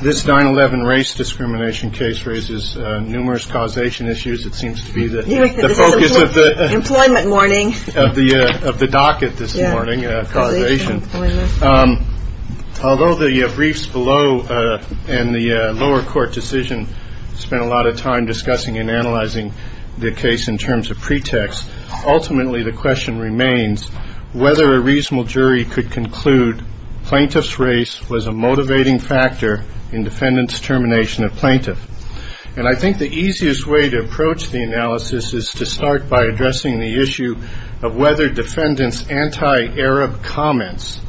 This 9-11 race discrimination case raises numerous causation issues, although the briefs below and the lower court decision spent a lot of time discussing and analyzing the case in terms of pretext, ultimately the question remains whether a reasonable jury could conclude plaintiff's race was a motivating factor in defendant's termination of plaintiff. And I think the easiest way to approach the analysis is to start by addressing the issue of whether defendant's anti-Arab comments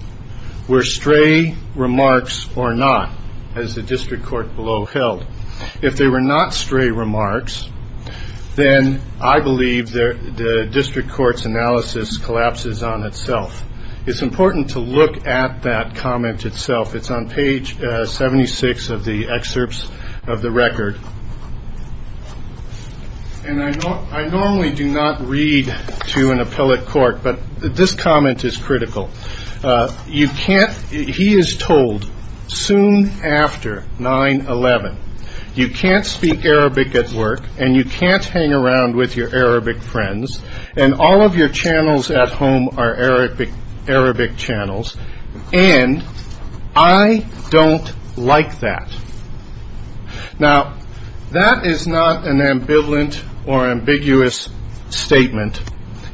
were stray remarks or not, as the district court below held. If they were not stray remarks, then I believe the district court's analysis collapses on itself. It's important to look at that comment itself. It's on page 76 of the excerpts of the record. I normally do not read to an appellate court, but this comment is critical. He is told, soon after 9-11, you can't speak Arabic at work, and you can't hang around with your Arabic friends, and all of your channels at home are Arabic channels, and I don't like that. Now, that is not an ambivalent or ambiguous statement.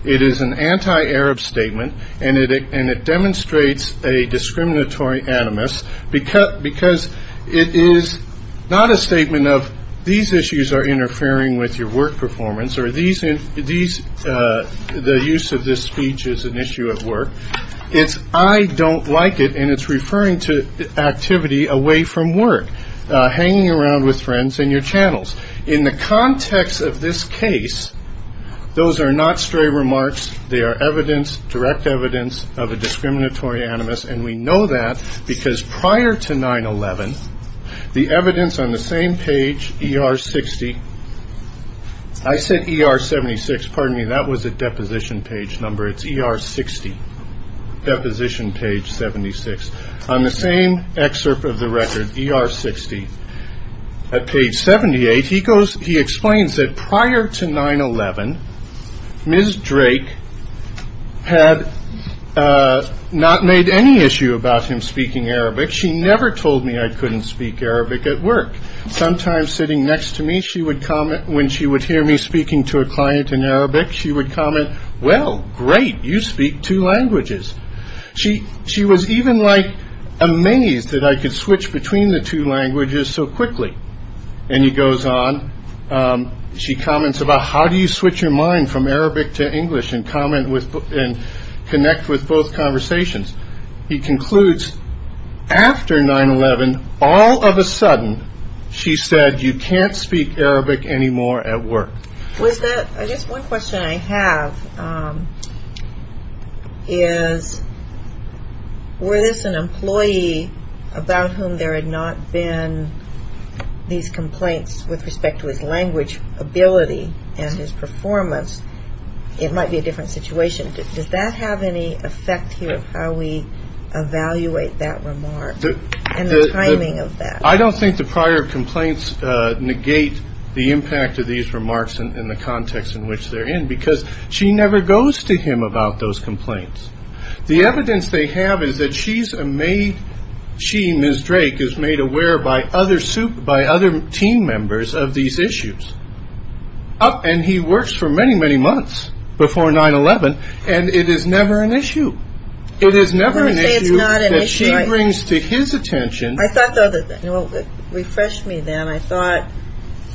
It is an anti-Arab statement, and it demonstrates a discriminatory animus, because it is not a statement of these issues are interfering with your work performance, or the use of this speech is an issue at work. It's, I don't like it, and it's referring to activity away from work, hanging around with friends and your channels. In the context of this case, those are not stray remarks. They are evidence, direct evidence of a discriminatory animus, and we know that, because prior to 9-11, the evidence on the same page, ER-60, I said ER-76, pardon me, that was a deposition page number, it's ER-60. Deposition page 76. On the same excerpt of the record, ER-60, at page 78, he goes, he explains that prior to 9-11, Ms. Drake had not made any issue about him speaking Arabic. She never told me I couldn't speak Arabic at work. Sometimes sitting next to me, she would comment, when she would hear me speaking to a client in Arabic, she would comment, well, great, you speak two languages. She was even amazed that I could switch between the two languages so quickly. And he goes on, she comments about how do you switch your mind from Arabic to English and connect with both conversations. He concludes, after 9-11, all of a sudden, she said, you can't speak Arabic anymore at work. I guess one question I have is, were this an employee about whom there had not been these complaints with respect to his language ability and his performance, it might be a different situation. Does that have any effect here, how we evaluate that remark and the timing of that? I don't think the prior complaints negate the impact of these remarks and the context in which they're in, because she never goes to him about those complaints. The evidence they have is that she, Ms. Drake, is made aware by other team members of these issues. And he works for many, many months before 9-11, and it is never an issue. It is never an issue that she brings to his attention. I thought the other thing, refresh me then, I thought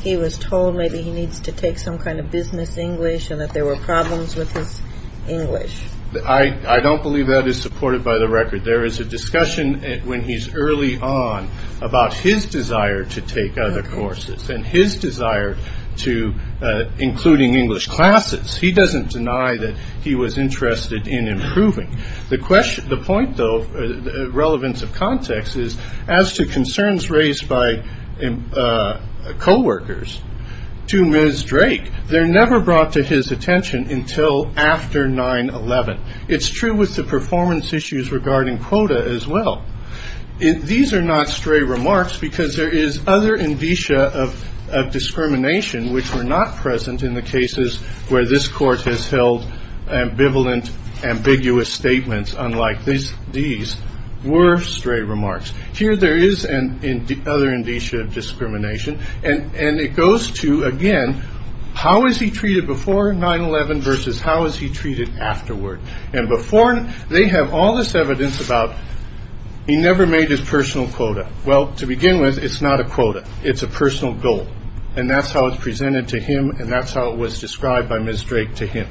he was told maybe he needs to take some kind of business English and that there were problems with his English. I don't believe that is supported by the record. There is a discussion when he's early on about his desire to take other courses and his desire to including English classes. He doesn't deny that he was interested in improving. The point though, relevance of context, is as to concerns raised by coworkers to Ms. Drake, they're never brought to his attention until after 9-11. It's true with the performance issues regarding quota as well. These are not stray remarks because there is other indicia of discrimination which were not present in the cases where this court has held ambivalent, ambiguous statements unlike these were stray remarks. Here there is other indicia of discrimination, and it goes to, again, how is he treated before 9-11 versus how is he treated afterward? And before, they have all this evidence about he never made his personal quota. Well, to begin with, it's not a quota. It's a personal goal. And that's how it's presented to him, and that's how it was described by Ms. Drake to him.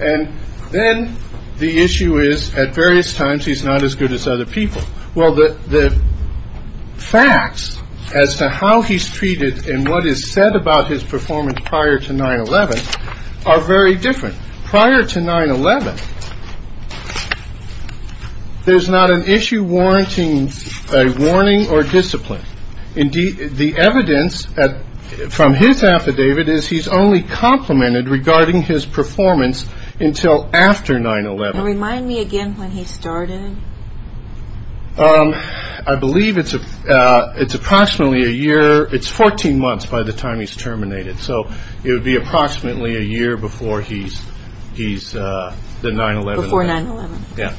And then the issue is at various times he's not as good as other people. Well, the facts as to how he's treated and what is said about his performance prior to 9-11 are very different. Prior to 9-11, there's not an issue warranting a warning or discipline. Indeed, the evidence from his affidavit is he's only complimented regarding his performance until after 9-11. Remind me again when he started. I believe it's approximately a year. It's 14 months by the time he's terminated. So it would be approximately a year before he's the 9-11. Before 9-11. Yeah.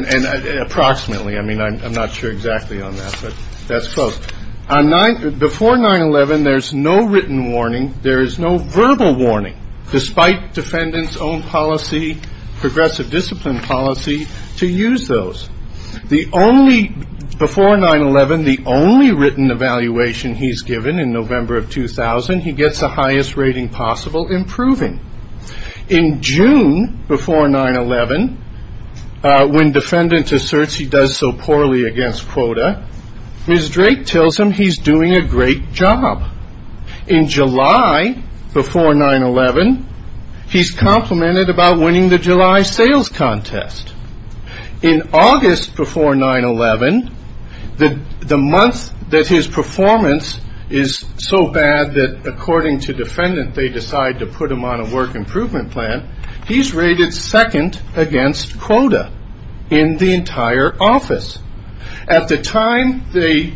And approximately. I mean, I'm not sure exactly on that, but that's close. Before 9-11, there's no written warning. There is no verbal warning, despite defendants' own policy, progressive discipline policy, to use those. Before 9-11, the only written evaluation he's given in November of 2000, he gets the highest rating possible in proving. In June before 9-11, when defendant asserts he does so poorly against quota, Ms. Drake tells him he's doing a great job. In July before 9-11, he's complimented about winning the July sales contest. In August before 9-11, the month that his performance is so bad that, according to defendant, they decide to put him on a work improvement plan, he's rated second against quota in the entire office. At the time they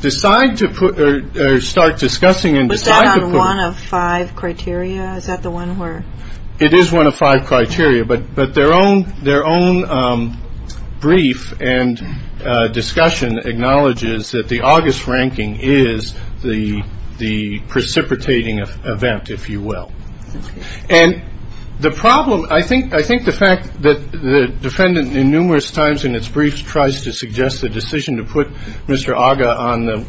decide to put or start discussing and decide to put. Was that on one of five criteria? Is that the one where? It is one of five criteria, but their own brief and discussion acknowledges that the August ranking is the precipitating event, if you will. And the problem, I think the fact that the defendant in numerous times in its briefs tries to suggest the decision to put Mr. 11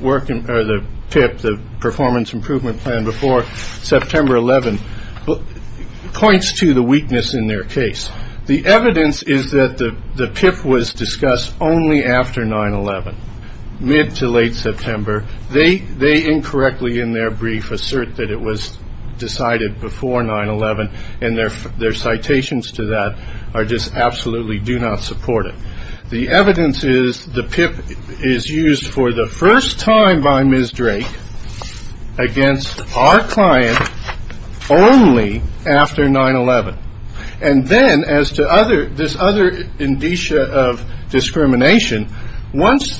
points to the weakness in their case. The evidence is that the PIP was discussed only after 9-11, mid to late September. They they incorrectly in their brief assert that it was decided before 9-11. And their their citations to that are just absolutely do not support it. The evidence is the PIP is used for the first time by Ms. Drake against our client only after 9-11. And then as to other this other indicia of discrimination, once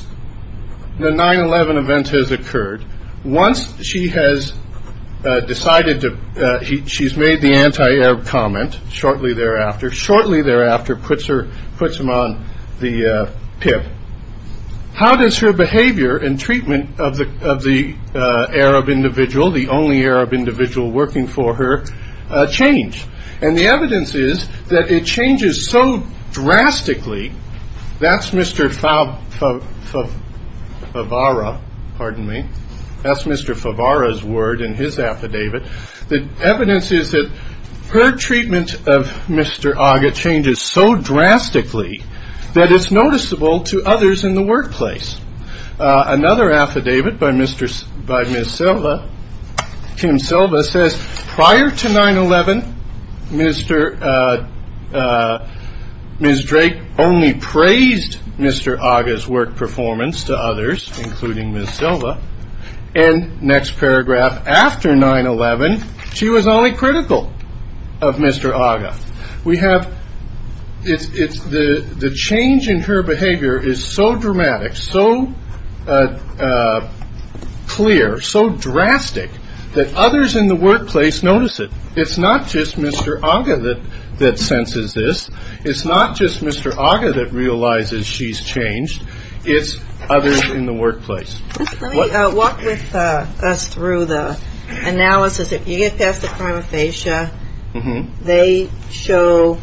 the 9-11 event has occurred, once she has decided to she's made the anti-Arab comment shortly thereafter, shortly thereafter puts her puts him on the PIP. How does her behavior and treatment of the of the Arab individual, the only Arab individual working for her change? And the evidence is that it changes so drastically. That's Mr. Favara. Pardon me. That's Mr. Favara's word in his affidavit. The evidence is that her treatment of Mr. Aga changes so drastically that it's noticeable to others in the workplace. Another affidavit by Mr. by Ms. Silva, Kim Silva says prior to 9-11, Mr. Ms. Drake only praised Mr. Aga's work performance to others, including Ms. Silva. And next paragraph after 9-11, she was only critical of Mr. Aga. We have it's the change in her behavior is so dramatic, so clear, so drastic that others in the workplace notice it. It's not just Mr. Aga that that senses this. It's not just Mr. Aga that realizes she's changed. It's others in the workplace. Walk with us through the analysis. If you get past the prima facie, they show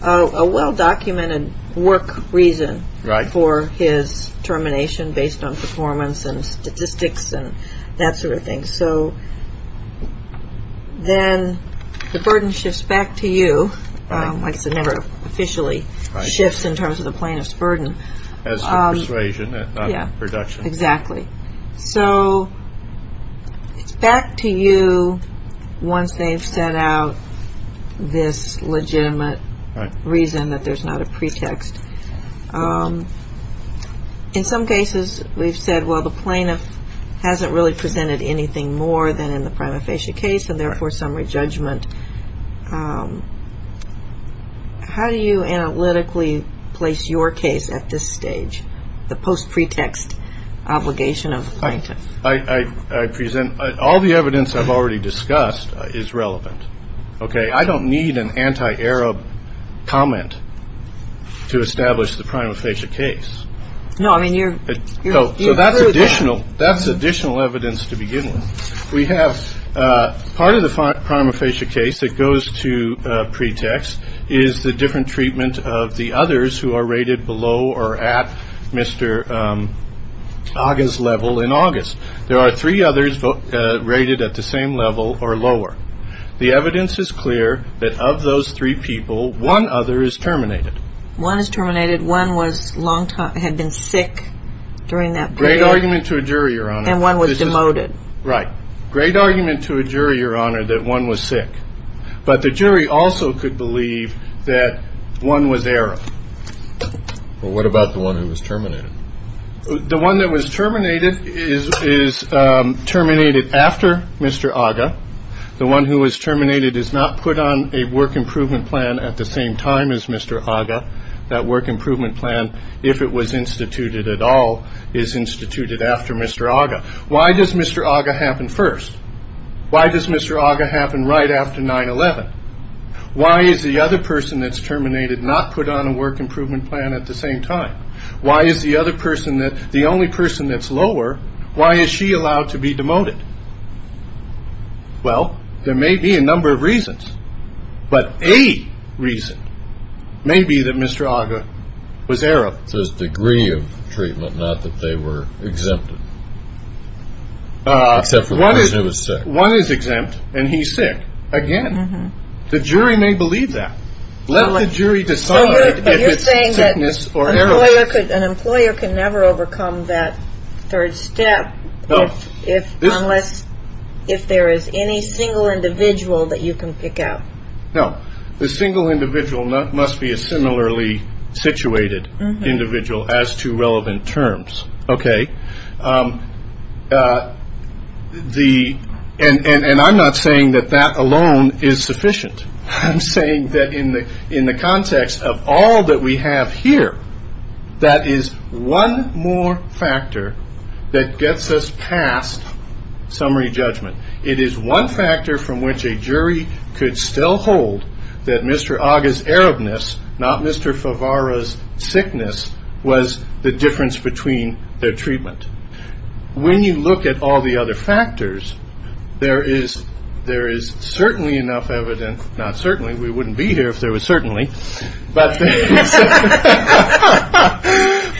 a well-documented work reason for his termination based on performance and statistics and that sort of thing. So then the burden shifts back to you. Officially shifts in terms of the plaintiff's burden as persuasion production. Exactly. So it's back to you once they've set out this legitimate reason that there's not a pretext. In some cases, we've said, well, the plaintiff hasn't really presented anything more than in the prima facie case. And therefore, summary judgment. How do you analytically place your case at this stage? The post pretext obligation of I present all the evidence I've already discussed is relevant. OK, I don't need an anti-Arab comment to establish the prima facie case. No, I mean, you know, that's additional. That's additional evidence to begin with. We have part of the prima facie case that goes to pretext is the different treatment of the others who are rated below or at Mr. August level in August. There are three others rated at the same level or lower. The evidence is clear that of those three people, one other is terminated. One is terminated. One was longtime had been sick during that great argument to a jury. And one was demoted. Right. Great argument to a jury, Your Honor, that one was sick. But the jury also could believe that one was there. Well, what about the one who was terminated? The one that was terminated is is terminated after Mr. Aga. The one who was terminated is not put on a work improvement plan at the same time as Mr. Aga. That work improvement plan, if it was instituted at all, is instituted after Mr. Aga. Why does Mr. Aga happen first? Why does Mr. Aga happen right after 9-11? Why is the other person that's terminated not put on a work improvement plan at the same time? Why is the other person that the only person that's lower? Why is she allowed to be demoted? Well, there may be a number of reasons, but a reason may be that Mr. Aga was error of his degree of treatment, not that they were exempted. Except for one who was sick. One is exempt and he's sick again. The jury may believe that. Let the jury decide if it's sickness or error. An employer can never overcome that third step. If unless if there is any single individual that you can pick out. No, the single individual must be a similarly situated individual as to relevant terms. OK. The and I'm not saying that that alone is sufficient. I'm saying that in the in the context of all that we have here, that is one more factor that gets us past summary judgment. It is one factor from which a jury could still hold that Mr. Aga's Arabness, not Mr. Favara's sickness, was the difference between their treatment. When you look at all the other factors, there is there is certainly enough evidence. Not certainly. We wouldn't be here if there was certainly. But.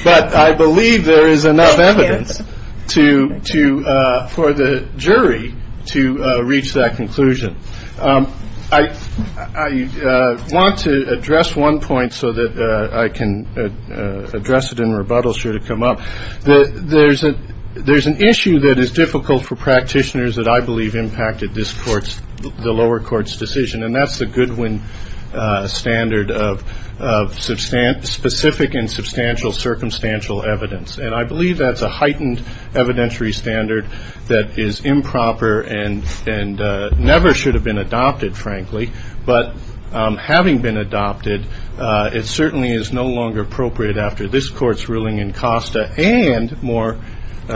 But I believe there is enough evidence to to for the jury to reach that conclusion. I want to address one point so that I can address it in rebuttal. Should it come up? There's a there's an issue that is difficult for practitioners that I believe impacted this court. The lower court's decision. And that's the Goodwin standard of substantial, specific and substantial, circumstantial evidence. And I believe that's a heightened evidentiary standard that is improper and and never should have been adopted, frankly. But having been adopted, it certainly is no longer appropriate. After this court's ruling in Costa and more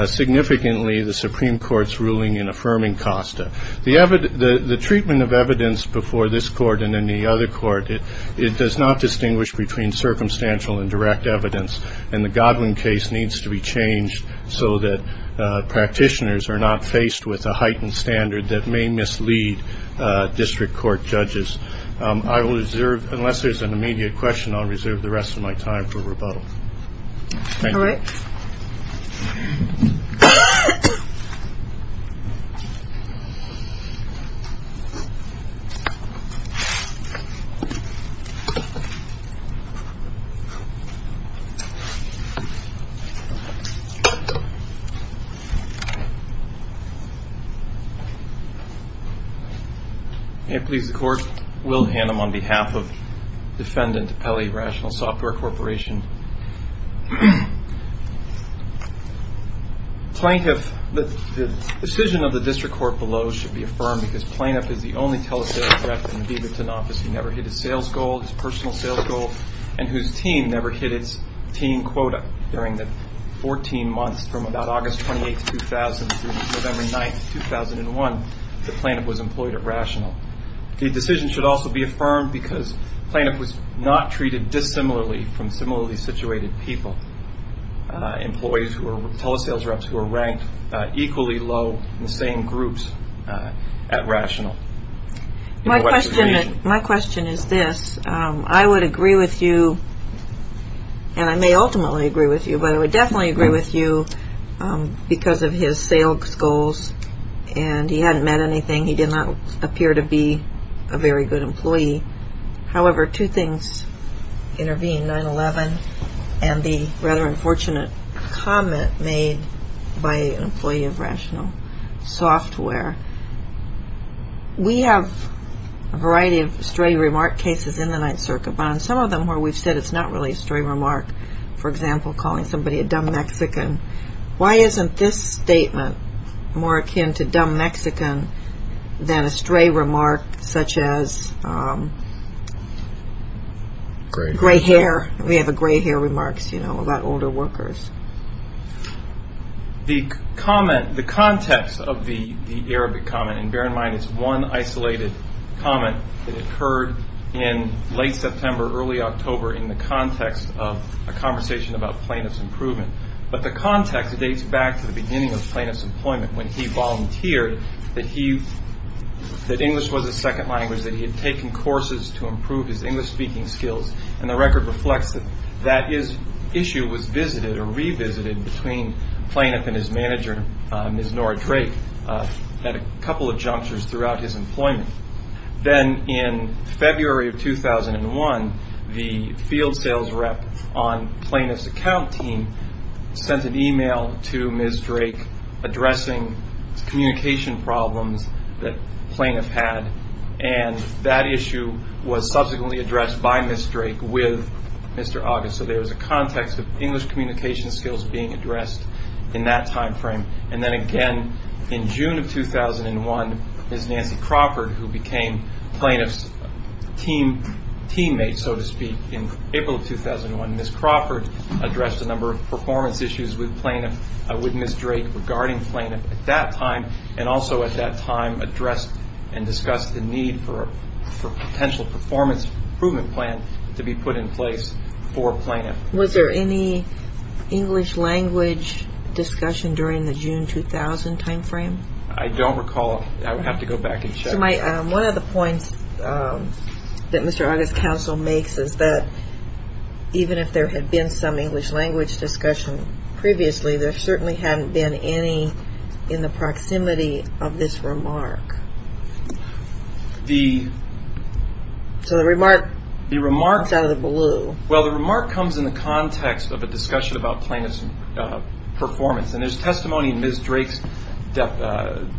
significantly, the Supreme Court's ruling in affirming Costa, the evident the treatment of evidence before this court and in the other court, it it does not distinguish between circumstantial and direct evidence. And the Godwin case needs to be changed so that practitioners are not faced with a heightened standard that may mislead. District court judges, I will reserve unless there's an immediate question on reserve the rest of my time for rebuttal. Please, the court will hand them on behalf of Defendant Pele, Rational Software Corporation. Plaintiff, the decision of the district court below should be affirmed because plaintiff is the only telehealth in the office. He never hit a sales goal, his personal sales goal and whose team never hit its team quota during the 14 months from about August 28, 2000. November 9, 2001, the plaintiff was employed at Rational. The decision should also be affirmed because plaintiff was not treated dissimilarly from similarly situated people. Employees who are tele sales reps who are ranked equally low in the same groups at Rational. My question, my question is this. I would agree with you and I may ultimately agree with you, but I would definitely agree with you because of his sales goals and he hadn't met anything. He did not appear to be a very good employee. However, two things intervene, 9-11 and the rather unfortunate comment made by an employee of Rational Software. We have a variety of stray remark cases in the Ninth Circuit, but on some of them where we've said it's not really a stray remark. For example, calling somebody a dumb Mexican. Why isn't this statement more akin to dumb Mexican than a stray remark such as gray hair? We have a gray hair remarks, you know, about older workers. The comment, the context of the Arabic comment and bear in mind it's one isolated comment that occurred in late September, early October in the context of a conversation about plaintiff's improvement. But the context dates back to the beginning of plaintiff's employment when he volunteered that he, that English was his second language. That he had taken courses to improve his English speaking skills. And the record reflects that that issue was visited or revisited between plaintiff and his manager, Ms. Nora Drake, at a couple of junctures throughout his employment. Then in February of 2001, the field sales rep on plaintiff's account team sent an email to Ms. Drake addressing communication problems that plaintiff had. And that issue was subsequently addressed by Ms. Drake with Mr. August. So there was a context of English communication skills being addressed in that time frame. And then again in June of 2001, Ms. Nancy Crawford who became plaintiff's team, teammate so to speak in April of 2001. Ms. Crawford addressed a number of performance issues with plaintiff, with Ms. Drake regarding plaintiff at that time. And also at that time addressed and discussed the need for a potential performance improvement plan to be put in place for plaintiff. Was there any English language discussion during the June 2000 time frame? I don't recall. I would have to go back and check. One of the points that Mr. August's counsel makes is that even if there had been some English language discussion previously, there certainly hadn't been any in the proximity of this remark. So the remark comes out of the blue. Well, the remark comes in the context of a discussion about plaintiff's performance. And there's testimony in Ms. Drake's,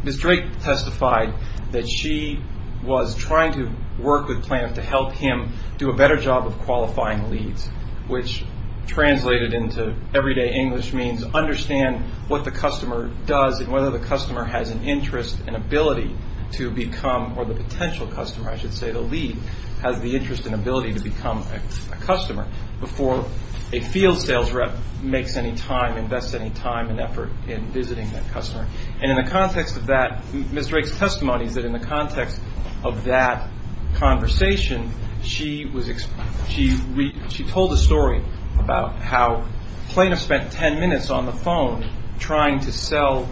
Ms. Drake testified that she was trying to work with plaintiff to help him do a better job of qualifying leads, which translated into everyday English means understand what the customer does and whether the customer has an interest and ability to become, or the potential customer I should say, the lead has the interest and ability to become a customer before a field sales rep makes any time, invest any time and effort in visiting that customer. And in the context of that, Ms. Drake's testimony is that in the context of that conversation, she told a story about how plaintiff spent 10 minutes on the phone trying to sell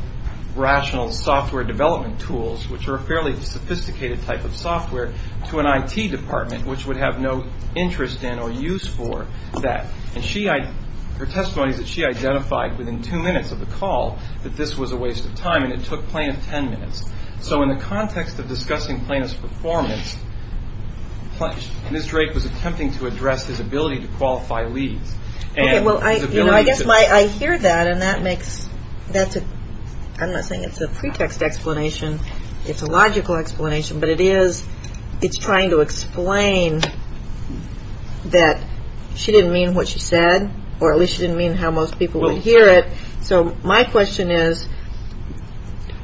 rational software development tools, which are a fairly sophisticated type of software, to an IT department, which would have no interest in or use for that. And her testimony is that she identified within two minutes of the call that this was a waste of time and it took plaintiff 10 minutes. So in the context of discussing plaintiff's performance, Ms. Drake was attempting to address his ability to qualify leads. Okay, well, I guess I hear that and that makes, I'm not saying it's a pretext explanation, it's a logical explanation, but it is, it's trying to explain that she didn't mean what she said, or at least she didn't mean how most people would hear it. So my question is,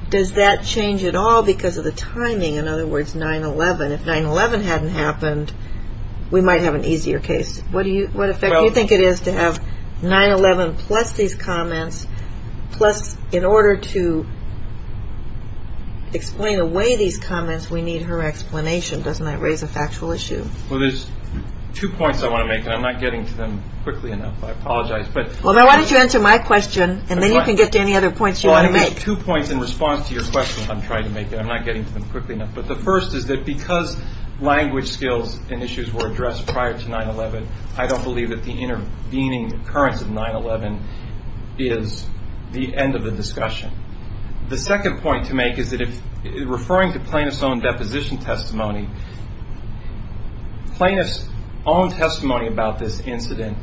does that change at all because of the timing, in other words, 9-11? If 9-11 hadn't happened, we might have an easier case. What effect do you think it is to have 9-11 plus these comments, plus in order to explain away these comments, we need her explanation, doesn't that raise a factual issue? Well, there's two points I want to make, and I'm not getting to them quickly enough, I apologize. Well, why don't you answer my question, and then you can get to any other points you want to make. Well, I have two points in response to your question I'm trying to make, and I'm not getting to them quickly enough. But the first is that because language skills and issues were addressed prior to 9-11, I don't believe that the intervening occurrence of 9-11 is the end of the discussion. The second point to make is that referring to plaintiff's own deposition testimony, plaintiff's own testimony about this incident,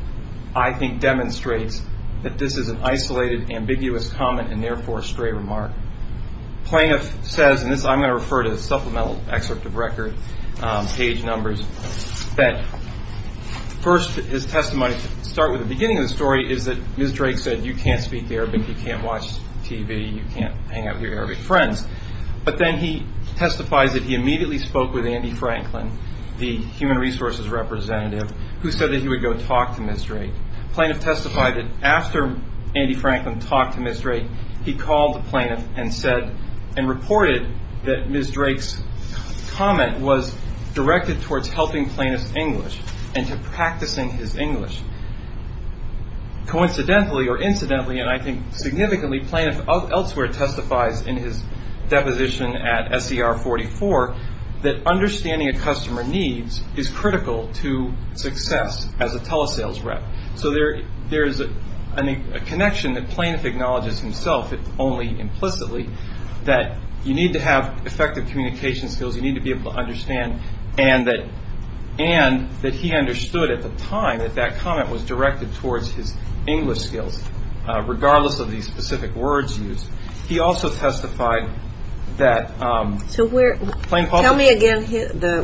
I think, demonstrates that this is an isolated, ambiguous comment and therefore a stray remark. Plaintiff says, and I'm going to refer to the supplemental excerpt of record, page numbers, that first his testimony to start with the beginning of the story is that Ms. Drake said, you can't speak Arabic, you can't watch TV, you can't hang out with your Arabic friends. But then he testifies that he immediately spoke with Andy Franklin, the human resources representative, who said that he would go talk to Ms. Drake. Plaintiff testified that after Andy Franklin talked to Ms. Drake, he called the plaintiff and said, and reported that Ms. Drake's comment was directed towards helping plaintiff's English and to practicing his English. Coincidentally or incidentally, and I think significantly, plaintiff elsewhere testifies in his deposition at SCR 44, that understanding a customer needs is critical to success as a telesales rep. So there is a connection that plaintiff acknowledges himself, if only implicitly, that you need to have effective communication skills, you need to be able to understand, and that he understood at the time that that comment was directed towards his English skills, regardless of the specific words used. He also testified that Plaintiff also- Tell me again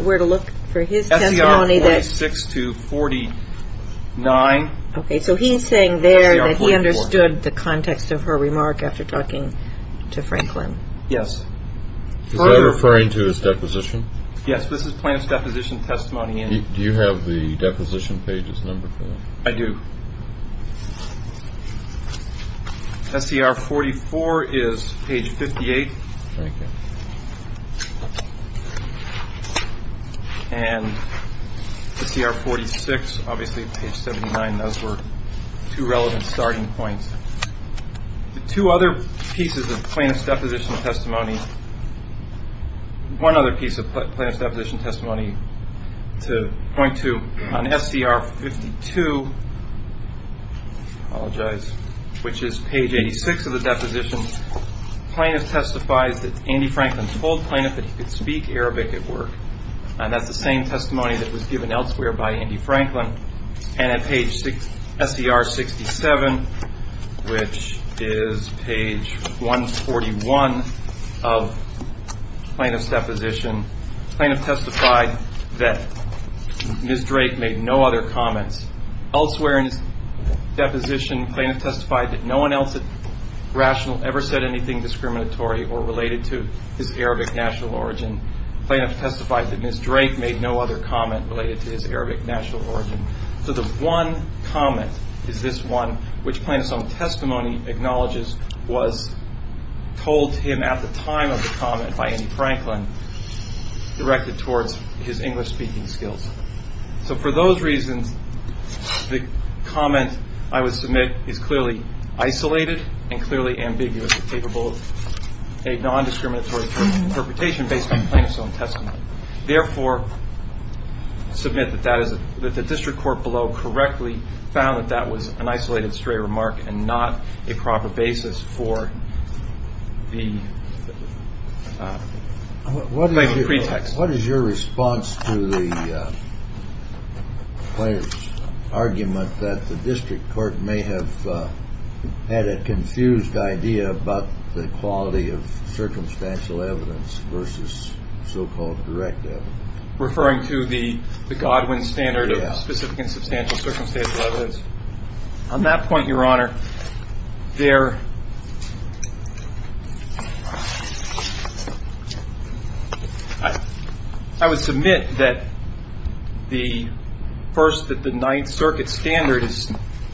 where to look for his testimony that- SCR 46 to 49. Okay, so he's saying there that he understood the context of her remark after talking to Franklin. Yes. Is that referring to his deposition? Yes, this is plaintiff's deposition testimony. Do you have the deposition page's number for that? I do. SCR 44 is page 58. Okay. And SCR 46, obviously page 79, those were two relevant starting points. The two other pieces of plaintiff's deposition testimony, one other piece of plaintiff's deposition testimony to point to on SCR 52, I apologize, which is page 86 of the deposition, plaintiff testifies that Andy Franklin told plaintiff that he could speak Arabic at work, and that's the same testimony that was given elsewhere by Andy Franklin. And at page SCR 67, which is page 141 of plaintiff's deposition, plaintiff testified that Ms. Drake made no other comments. Elsewhere in his deposition, plaintiff testified that no one else at Rational ever said anything discriminatory or related to his Arabic national origin. And plaintiff testified that Ms. Drake made no other comment related to his Arabic national origin. So the one comment is this one, which plaintiff's own testimony acknowledges was told to him at the time of the comment by Andy Franklin, directed towards his English-speaking skills. So for those reasons, the comment I would submit is clearly isolated and clearly ambiguous and capable of a nondiscriminatory interpretation based on plaintiff's own testimony. Therefore, I submit that the district court below correctly found that that was an isolated, stray remark and not a proper basis for the pretext. What is your response to the argument that the district court may have had a confused idea about the quality of circumstantial evidence versus so-called direct evidence? Referring to the Godwin standard of specific and substantial circumstantial evidence. On that point, Your Honor, I would submit that the first, that the Ninth Circuit standard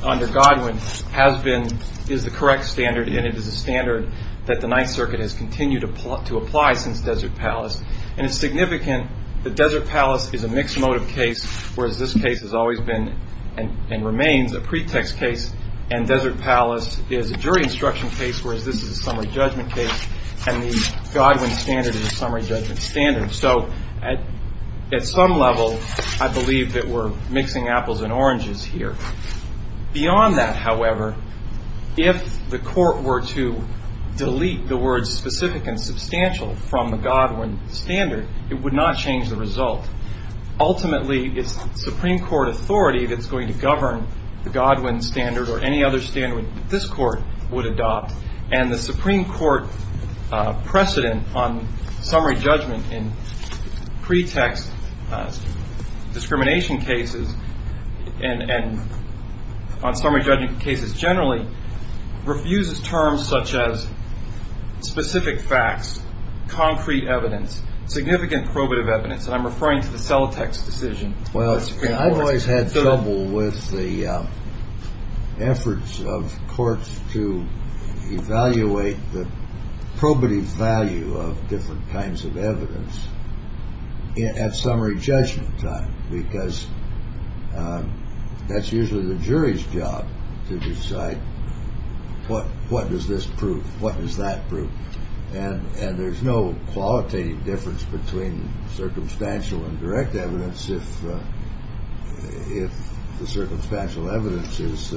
under Godwin has been, is the correct standard and it is a standard that the Ninth Circuit has continued to apply since Desert Palace. And it's significant that Desert Palace is a mixed motive case, whereas this case has always been and remains a pretext case. And Desert Palace is a jury instruction case, whereas this is a summary judgment case. And the Godwin standard is a summary judgment standard. So at some level, I believe that we're mixing apples and oranges here. Beyond that, however, if the court were to delete the words specific and substantial from the Godwin standard, it would not change the result. Ultimately, it's Supreme Court authority that's going to govern the Godwin standard or any other standard that this court would adopt. And the Supreme Court precedent on summary judgment in pretext discrimination cases and on summary judgment cases generally refuses terms such as specific facts, concrete evidence, significant probative evidence. And I'm referring to the Celotex decision. Well, I've always had trouble with the efforts of courts to evaluate the probative value of different kinds of evidence at summary judgment time, because that's usually the jury's job to decide what what does this prove? What does that prove? And there's no qualitative difference between circumstantial and direct evidence if the circumstantial evidence has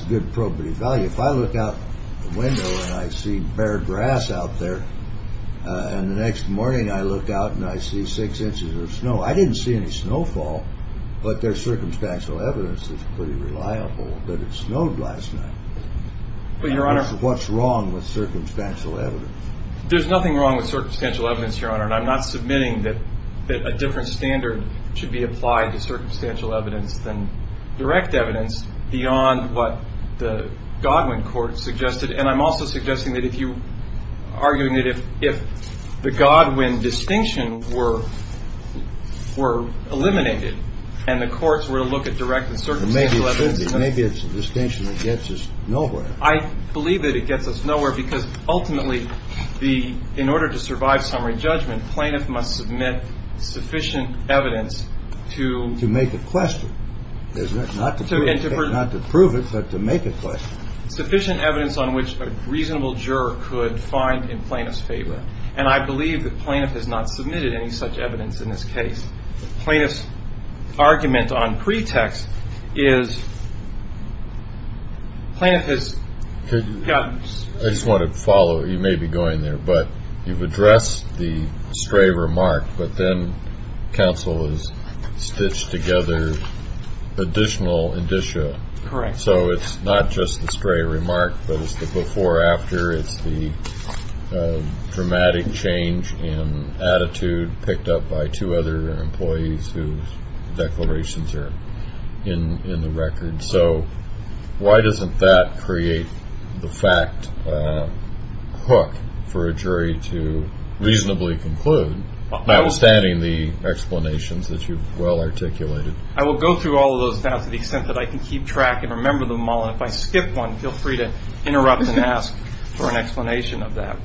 good probative value. If I look out the window and I see bare grass out there and the next morning I look out and I see six inches of snow, I didn't see any snowfall, but there's circumstantial evidence that's pretty reliable that it snowed last night. But, Your Honor. What's wrong with circumstantial evidence? There's nothing wrong with circumstantial evidence, Your Honor. And I'm not submitting that a different standard should be applied to circumstantial evidence than direct evidence beyond what the Godwin court suggested. And I'm also suggesting that if you argue that if the Godwin distinction were eliminated and the courts were to look at direct and circumstantial evidence. Maybe it's a distinction that gets us nowhere. I believe that it gets us nowhere because ultimately, in order to survive summary judgment, plaintiff must submit sufficient evidence to. To make a question, isn't it? Not to prove it, but to make a question. Sufficient evidence on which a reasonable juror could find in plaintiff's favor. And I believe that plaintiff has not submitted any such evidence in this case. Plaintiff's argument on pretext is plaintiff has. I just want to follow. You may be going there, but you've addressed the stray remark, but then counsel is stitched together additional indicia. Correct. So it's not just the stray remark, but it's the before, after. It's the dramatic change in attitude picked up by two other employees whose declarations are in the record. So why doesn't that create the fact hook for a jury to reasonably conclude, notwithstanding the explanations that you've well articulated? I will go through all of those now to the extent that I can keep track and remember them all. And if I skip one, feel free to interrupt and ask for an explanation of that.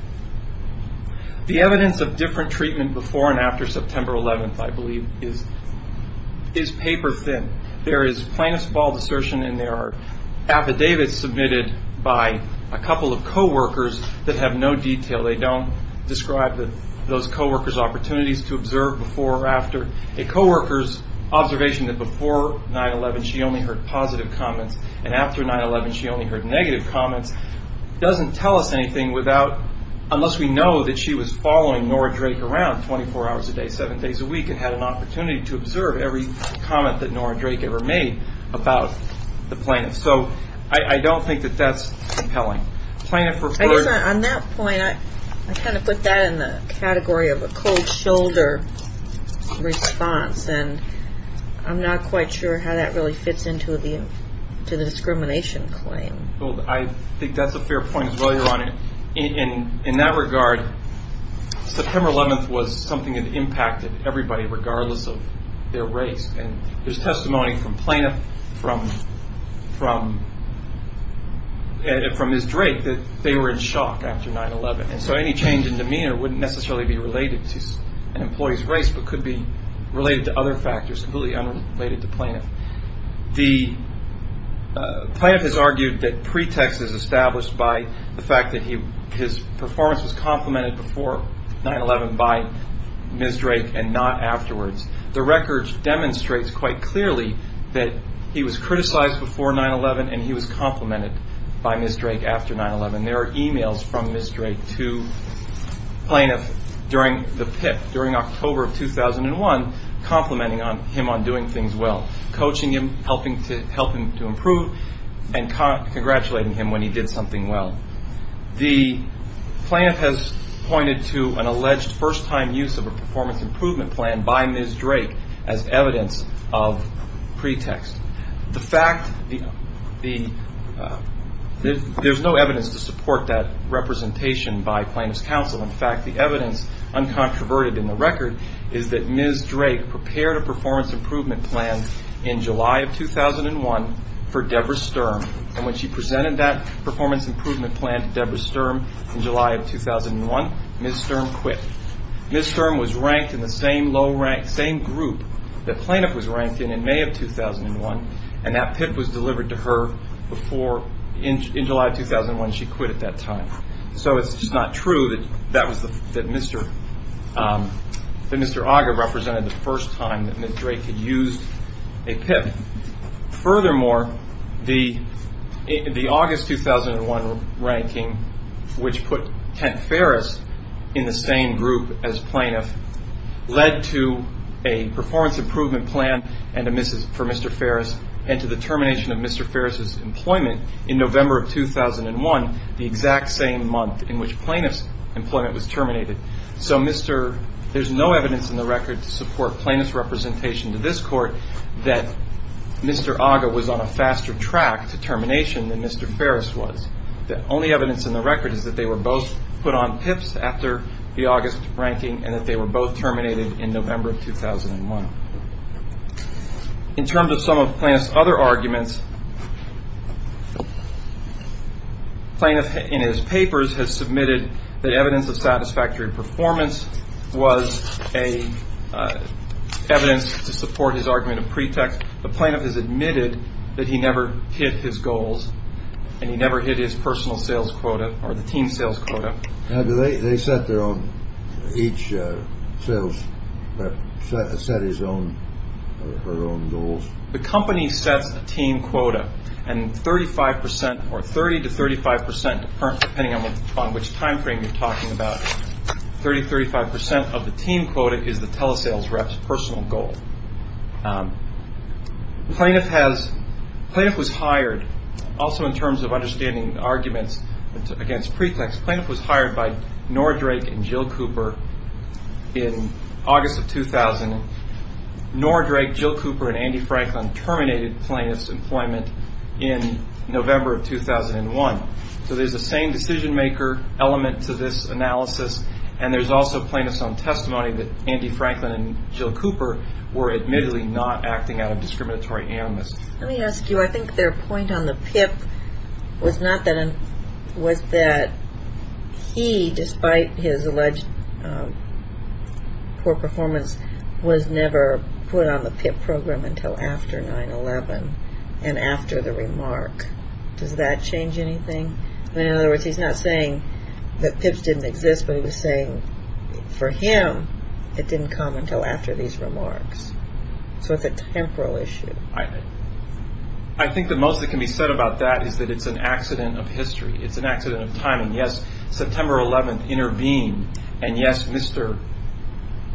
The evidence of different treatment before and after September 11th, I believe, is paper thin. There is plaintiff's bald assertion and there are affidavits submitted by a couple of coworkers that have no detail. They don't describe those coworkers' opportunities to observe before or after. A coworker's observation that before 9-11 she only heard positive comments and after 9-11 she only heard negative comments doesn't tell us anything unless we know that she was following Nora Drake around 24 hours a day, seven days a week and had an opportunity to observe every comment that Nora Drake ever made about the plaintiff. So I don't think that that's compelling. I guess on that point, I kind of put that in the category of a cold shoulder response and I'm not quite sure how that really fits into the discrimination claim. I think that's a fair point as well, Your Honor. In that regard, September 11th was something that impacted everybody regardless of their race. There's testimony from plaintiff, from Ms. Drake, that they were in shock after 9-11. So any change in demeanor wouldn't necessarily be related to an employee's race but could be related to other factors, completely unrelated to plaintiff. The plaintiff has argued that pretext is established by the fact that his performance was complemented before 9-11 by Ms. Drake and not afterwards. The record demonstrates quite clearly that he was criticized before 9-11 and he was complemented by Ms. Drake after 9-11. There are emails from Ms. Drake to plaintiff during the PIP, during October of 2001, complimenting him on doing things well, coaching him, helping to improve and congratulating him when he did something well. The plaintiff has pointed to an alleged first-time use of a performance improvement plan by Ms. Drake as evidence of pretext. There's no evidence to support that representation by plaintiff's counsel. In fact, the evidence, uncontroverted in the record, is that Ms. Drake prepared a performance improvement plan in July of 2001 for Deborah Sturm. When she presented that performance improvement plan to Deborah Sturm in July of 2001, Ms. Sturm quit. Ms. Sturm was ranked in the same group that plaintiff was ranked in in May of 2001 and that PIP was delivered to her in July of 2001. She quit at that time. It's just not true that Mr. Auger represented the first time that Ms. Drake had used a PIP. Furthermore, the August 2001 ranking, which put Kent Ferris in the same group as plaintiff, led to a performance improvement plan for Mr. Ferris and to the termination of Mr. Ferris's employment in November of 2001, the exact same month in which plaintiff's employment was terminated. So there's no evidence in the record to support plaintiff's representation to this court that Mr. Auger was on a faster track to termination than Mr. Ferris was. The only evidence in the record is that they were both put on PIPs after the August ranking and that they were both terminated in November of 2001. In terms of some of plaintiff's other arguments, plaintiff in his papers has submitted that evidence of satisfactory performance was evidence to support his argument of pretext. The plaintiff has admitted that he never hit his goals and he never hit his personal sales quota or the team sales quota. They set their own, each sales set his own goals. The company sets a team quota and 30 to 35 percent, depending on which time frame you're talking about, 30 to 35 percent of the team quota is the telesales rep's personal goal. Plaintiff was hired, also in terms of understanding arguments against pretext, plaintiff was hired by Nora Drake and Jill Cooper in August of 2000. Nora Drake, Jill Cooper, and Andy Franklin terminated plaintiff's employment in November of 2001. So there's the same decision maker element to this analysis and there's also plaintiff's own testimony that Andy Franklin and Jill Cooper were admittedly not acting out of discriminatory animus. Let me ask you, I think their point on the PIP was that he, despite his alleged poor performance, was never put on the PIP program until after 9-11 and after the remark. Does that change anything? In other words, he's not saying that PIPs didn't exist, but he was saying for him it didn't come until after these remarks. So it's a temporal issue. I think the most that can be said about that is that it's an accident of history. It's an accident of timing. Yes, September 11th intervened and yes, Mr.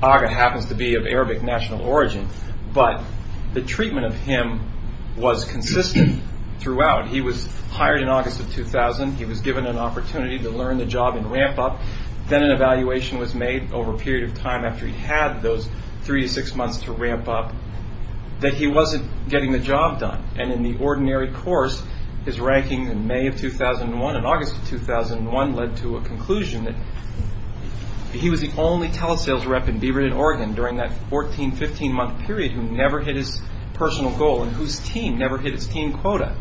Agha happens to be of Arabic national origin, but the treatment of him was consistent throughout. He was hired in August of 2000. He was given an opportunity to learn the job in ramp up. Then an evaluation was made over a period of time after he had those three to six months to ramp up that he wasn't getting the job done. And in the ordinary course, his ranking in May of 2001 and August of 2001 led to a conclusion that he was the only telesales rep in Beaverton, Oregon during that 14-15 month period who never hit his personal goal and whose team never hit its team quota.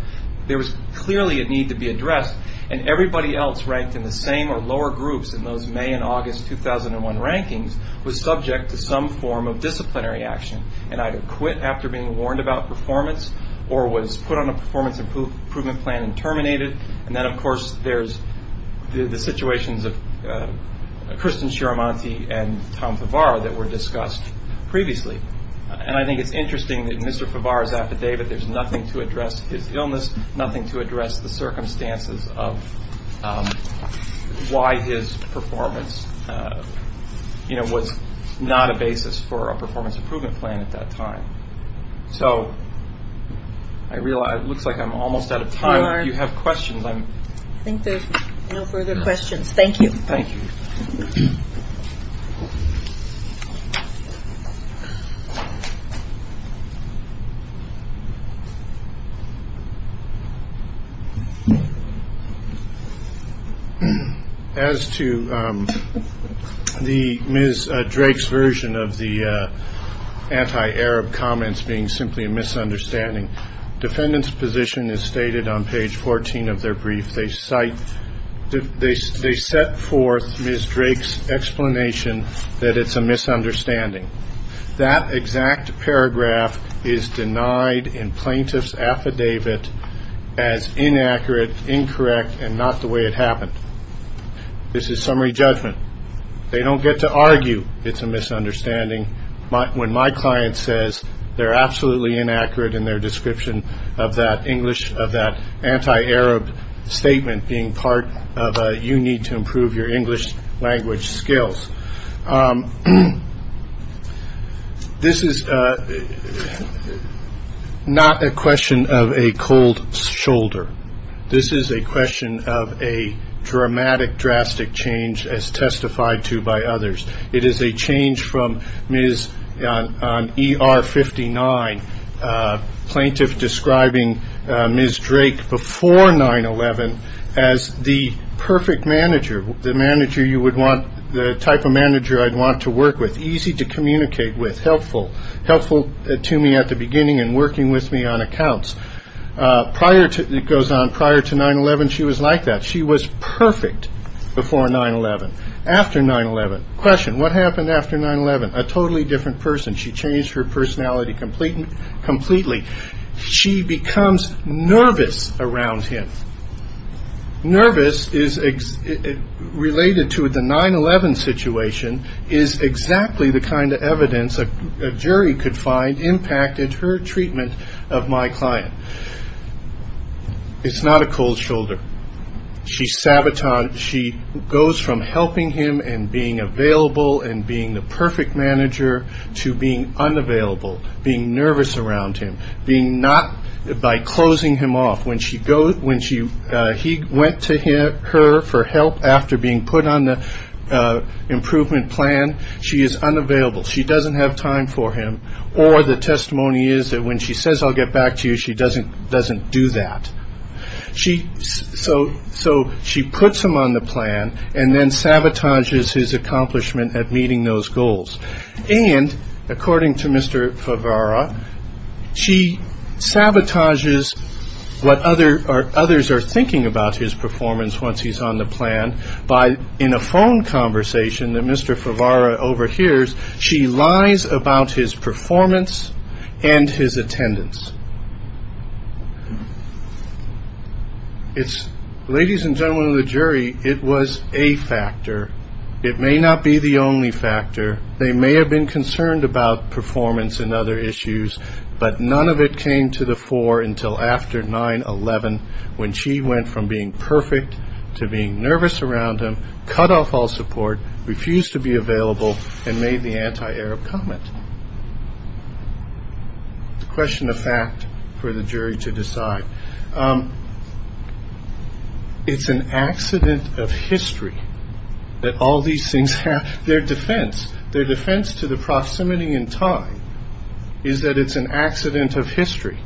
There was clearly a need to be addressed and everybody else ranked in the same or lower groups in those May and August 2001 rankings was subject to some form of disciplinary action and either quit after being warned about performance or was put on a performance improvement plan and terminated. And then of course there's the situations of Kristin Shiromonti and Tom Favara that were discussed previously. And I think it's interesting that in Mr. Favara's affidavit there's nothing to address his illness, nothing to address the circumstances of why his performance was not a basis for a performance improvement plan at that time. So, it looks like I'm almost out of time. If you have questions. I think there's no further questions. Thank you. Thank you. As to Ms. Drake's version of the anti-Arab comments being simply a misunderstanding, defendant's position is stated on page 14 of their brief. They cite, they set forth Ms. Drake's explanation that it's a misunderstanding. That exact paragraph is denied in plaintiff's affidavit as inaccurate, incorrect, and not the way it happened. This is summary judgment. They don't get to argue it's a misunderstanding. When my client says they're absolutely inaccurate in their description of that English, of that anti-Arab statement being part of a you need to improve your English language skills. This is not a question of a cold shoulder. This is a question of a dramatic, drastic change as testified to by others. It is a change from Ms. ER-59, plaintiff describing Ms. Drake before 9-11 as the perfect manager, the manager you would want, the type of manager I'd want to work with, easy to communicate with, helpful, helpful to me at the beginning and working with me on accounts. Prior to, it goes on, prior to 9-11, she was like that. She was perfect before 9-11. After 9-11, question, what happened after 9-11? A totally different person. She changed her personality completely. She becomes nervous around him. Nervous is related to the 9-11 situation is exactly the kind of evidence a jury could find impacted her treatment of my client. It's not a cold shoulder. She's sabotaged. She goes from helping him and being available and being the perfect manager to being unavailable, being nervous around him, being not by closing him off. When he went to her for help after being put on the improvement plan, she is unavailable. She doesn't have time for him, or the testimony is that when she says I'll get back to you, she doesn't do that. So she puts him on the plan and then sabotages his accomplishment at meeting those goals. And according to Mr. Favara, she sabotages what others are thinking about his performance once he's on the plan by, in a phone conversation that Mr. Favara overhears, she lies about his performance and his attendance. Ladies and gentlemen of the jury, it was a factor. It may not be the only factor. They may have been concerned about performance and other issues, but none of it came to the fore until after 9-11 when she went from being perfect to being nervous around him, cut off all support, refused to be available, and made the anti-Arab comment. It's a question of fact for the jury to decide. It's an accident of history that all these things have their defense. Their defense to the proximity in time is that it's an accident of history.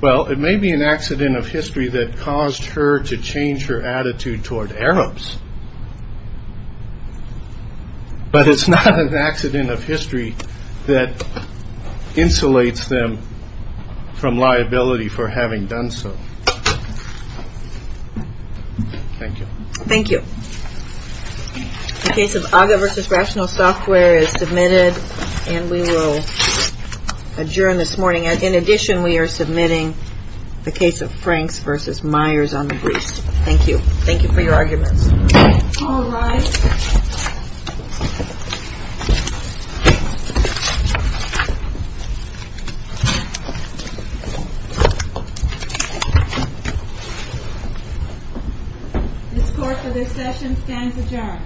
Well, it may be an accident of history that caused her to change her attitude toward Arabs. But it's not an accident of history that insulates them from liability for having done so. Thank you. Thank you. The case of AGA v. Rational Software is submitted and we will adjourn this morning. In addition, we are submitting the case of Franks v. Myers on the briefs. Thank you. Thank you for your arguments. All rise. This court for this session stands adjourned.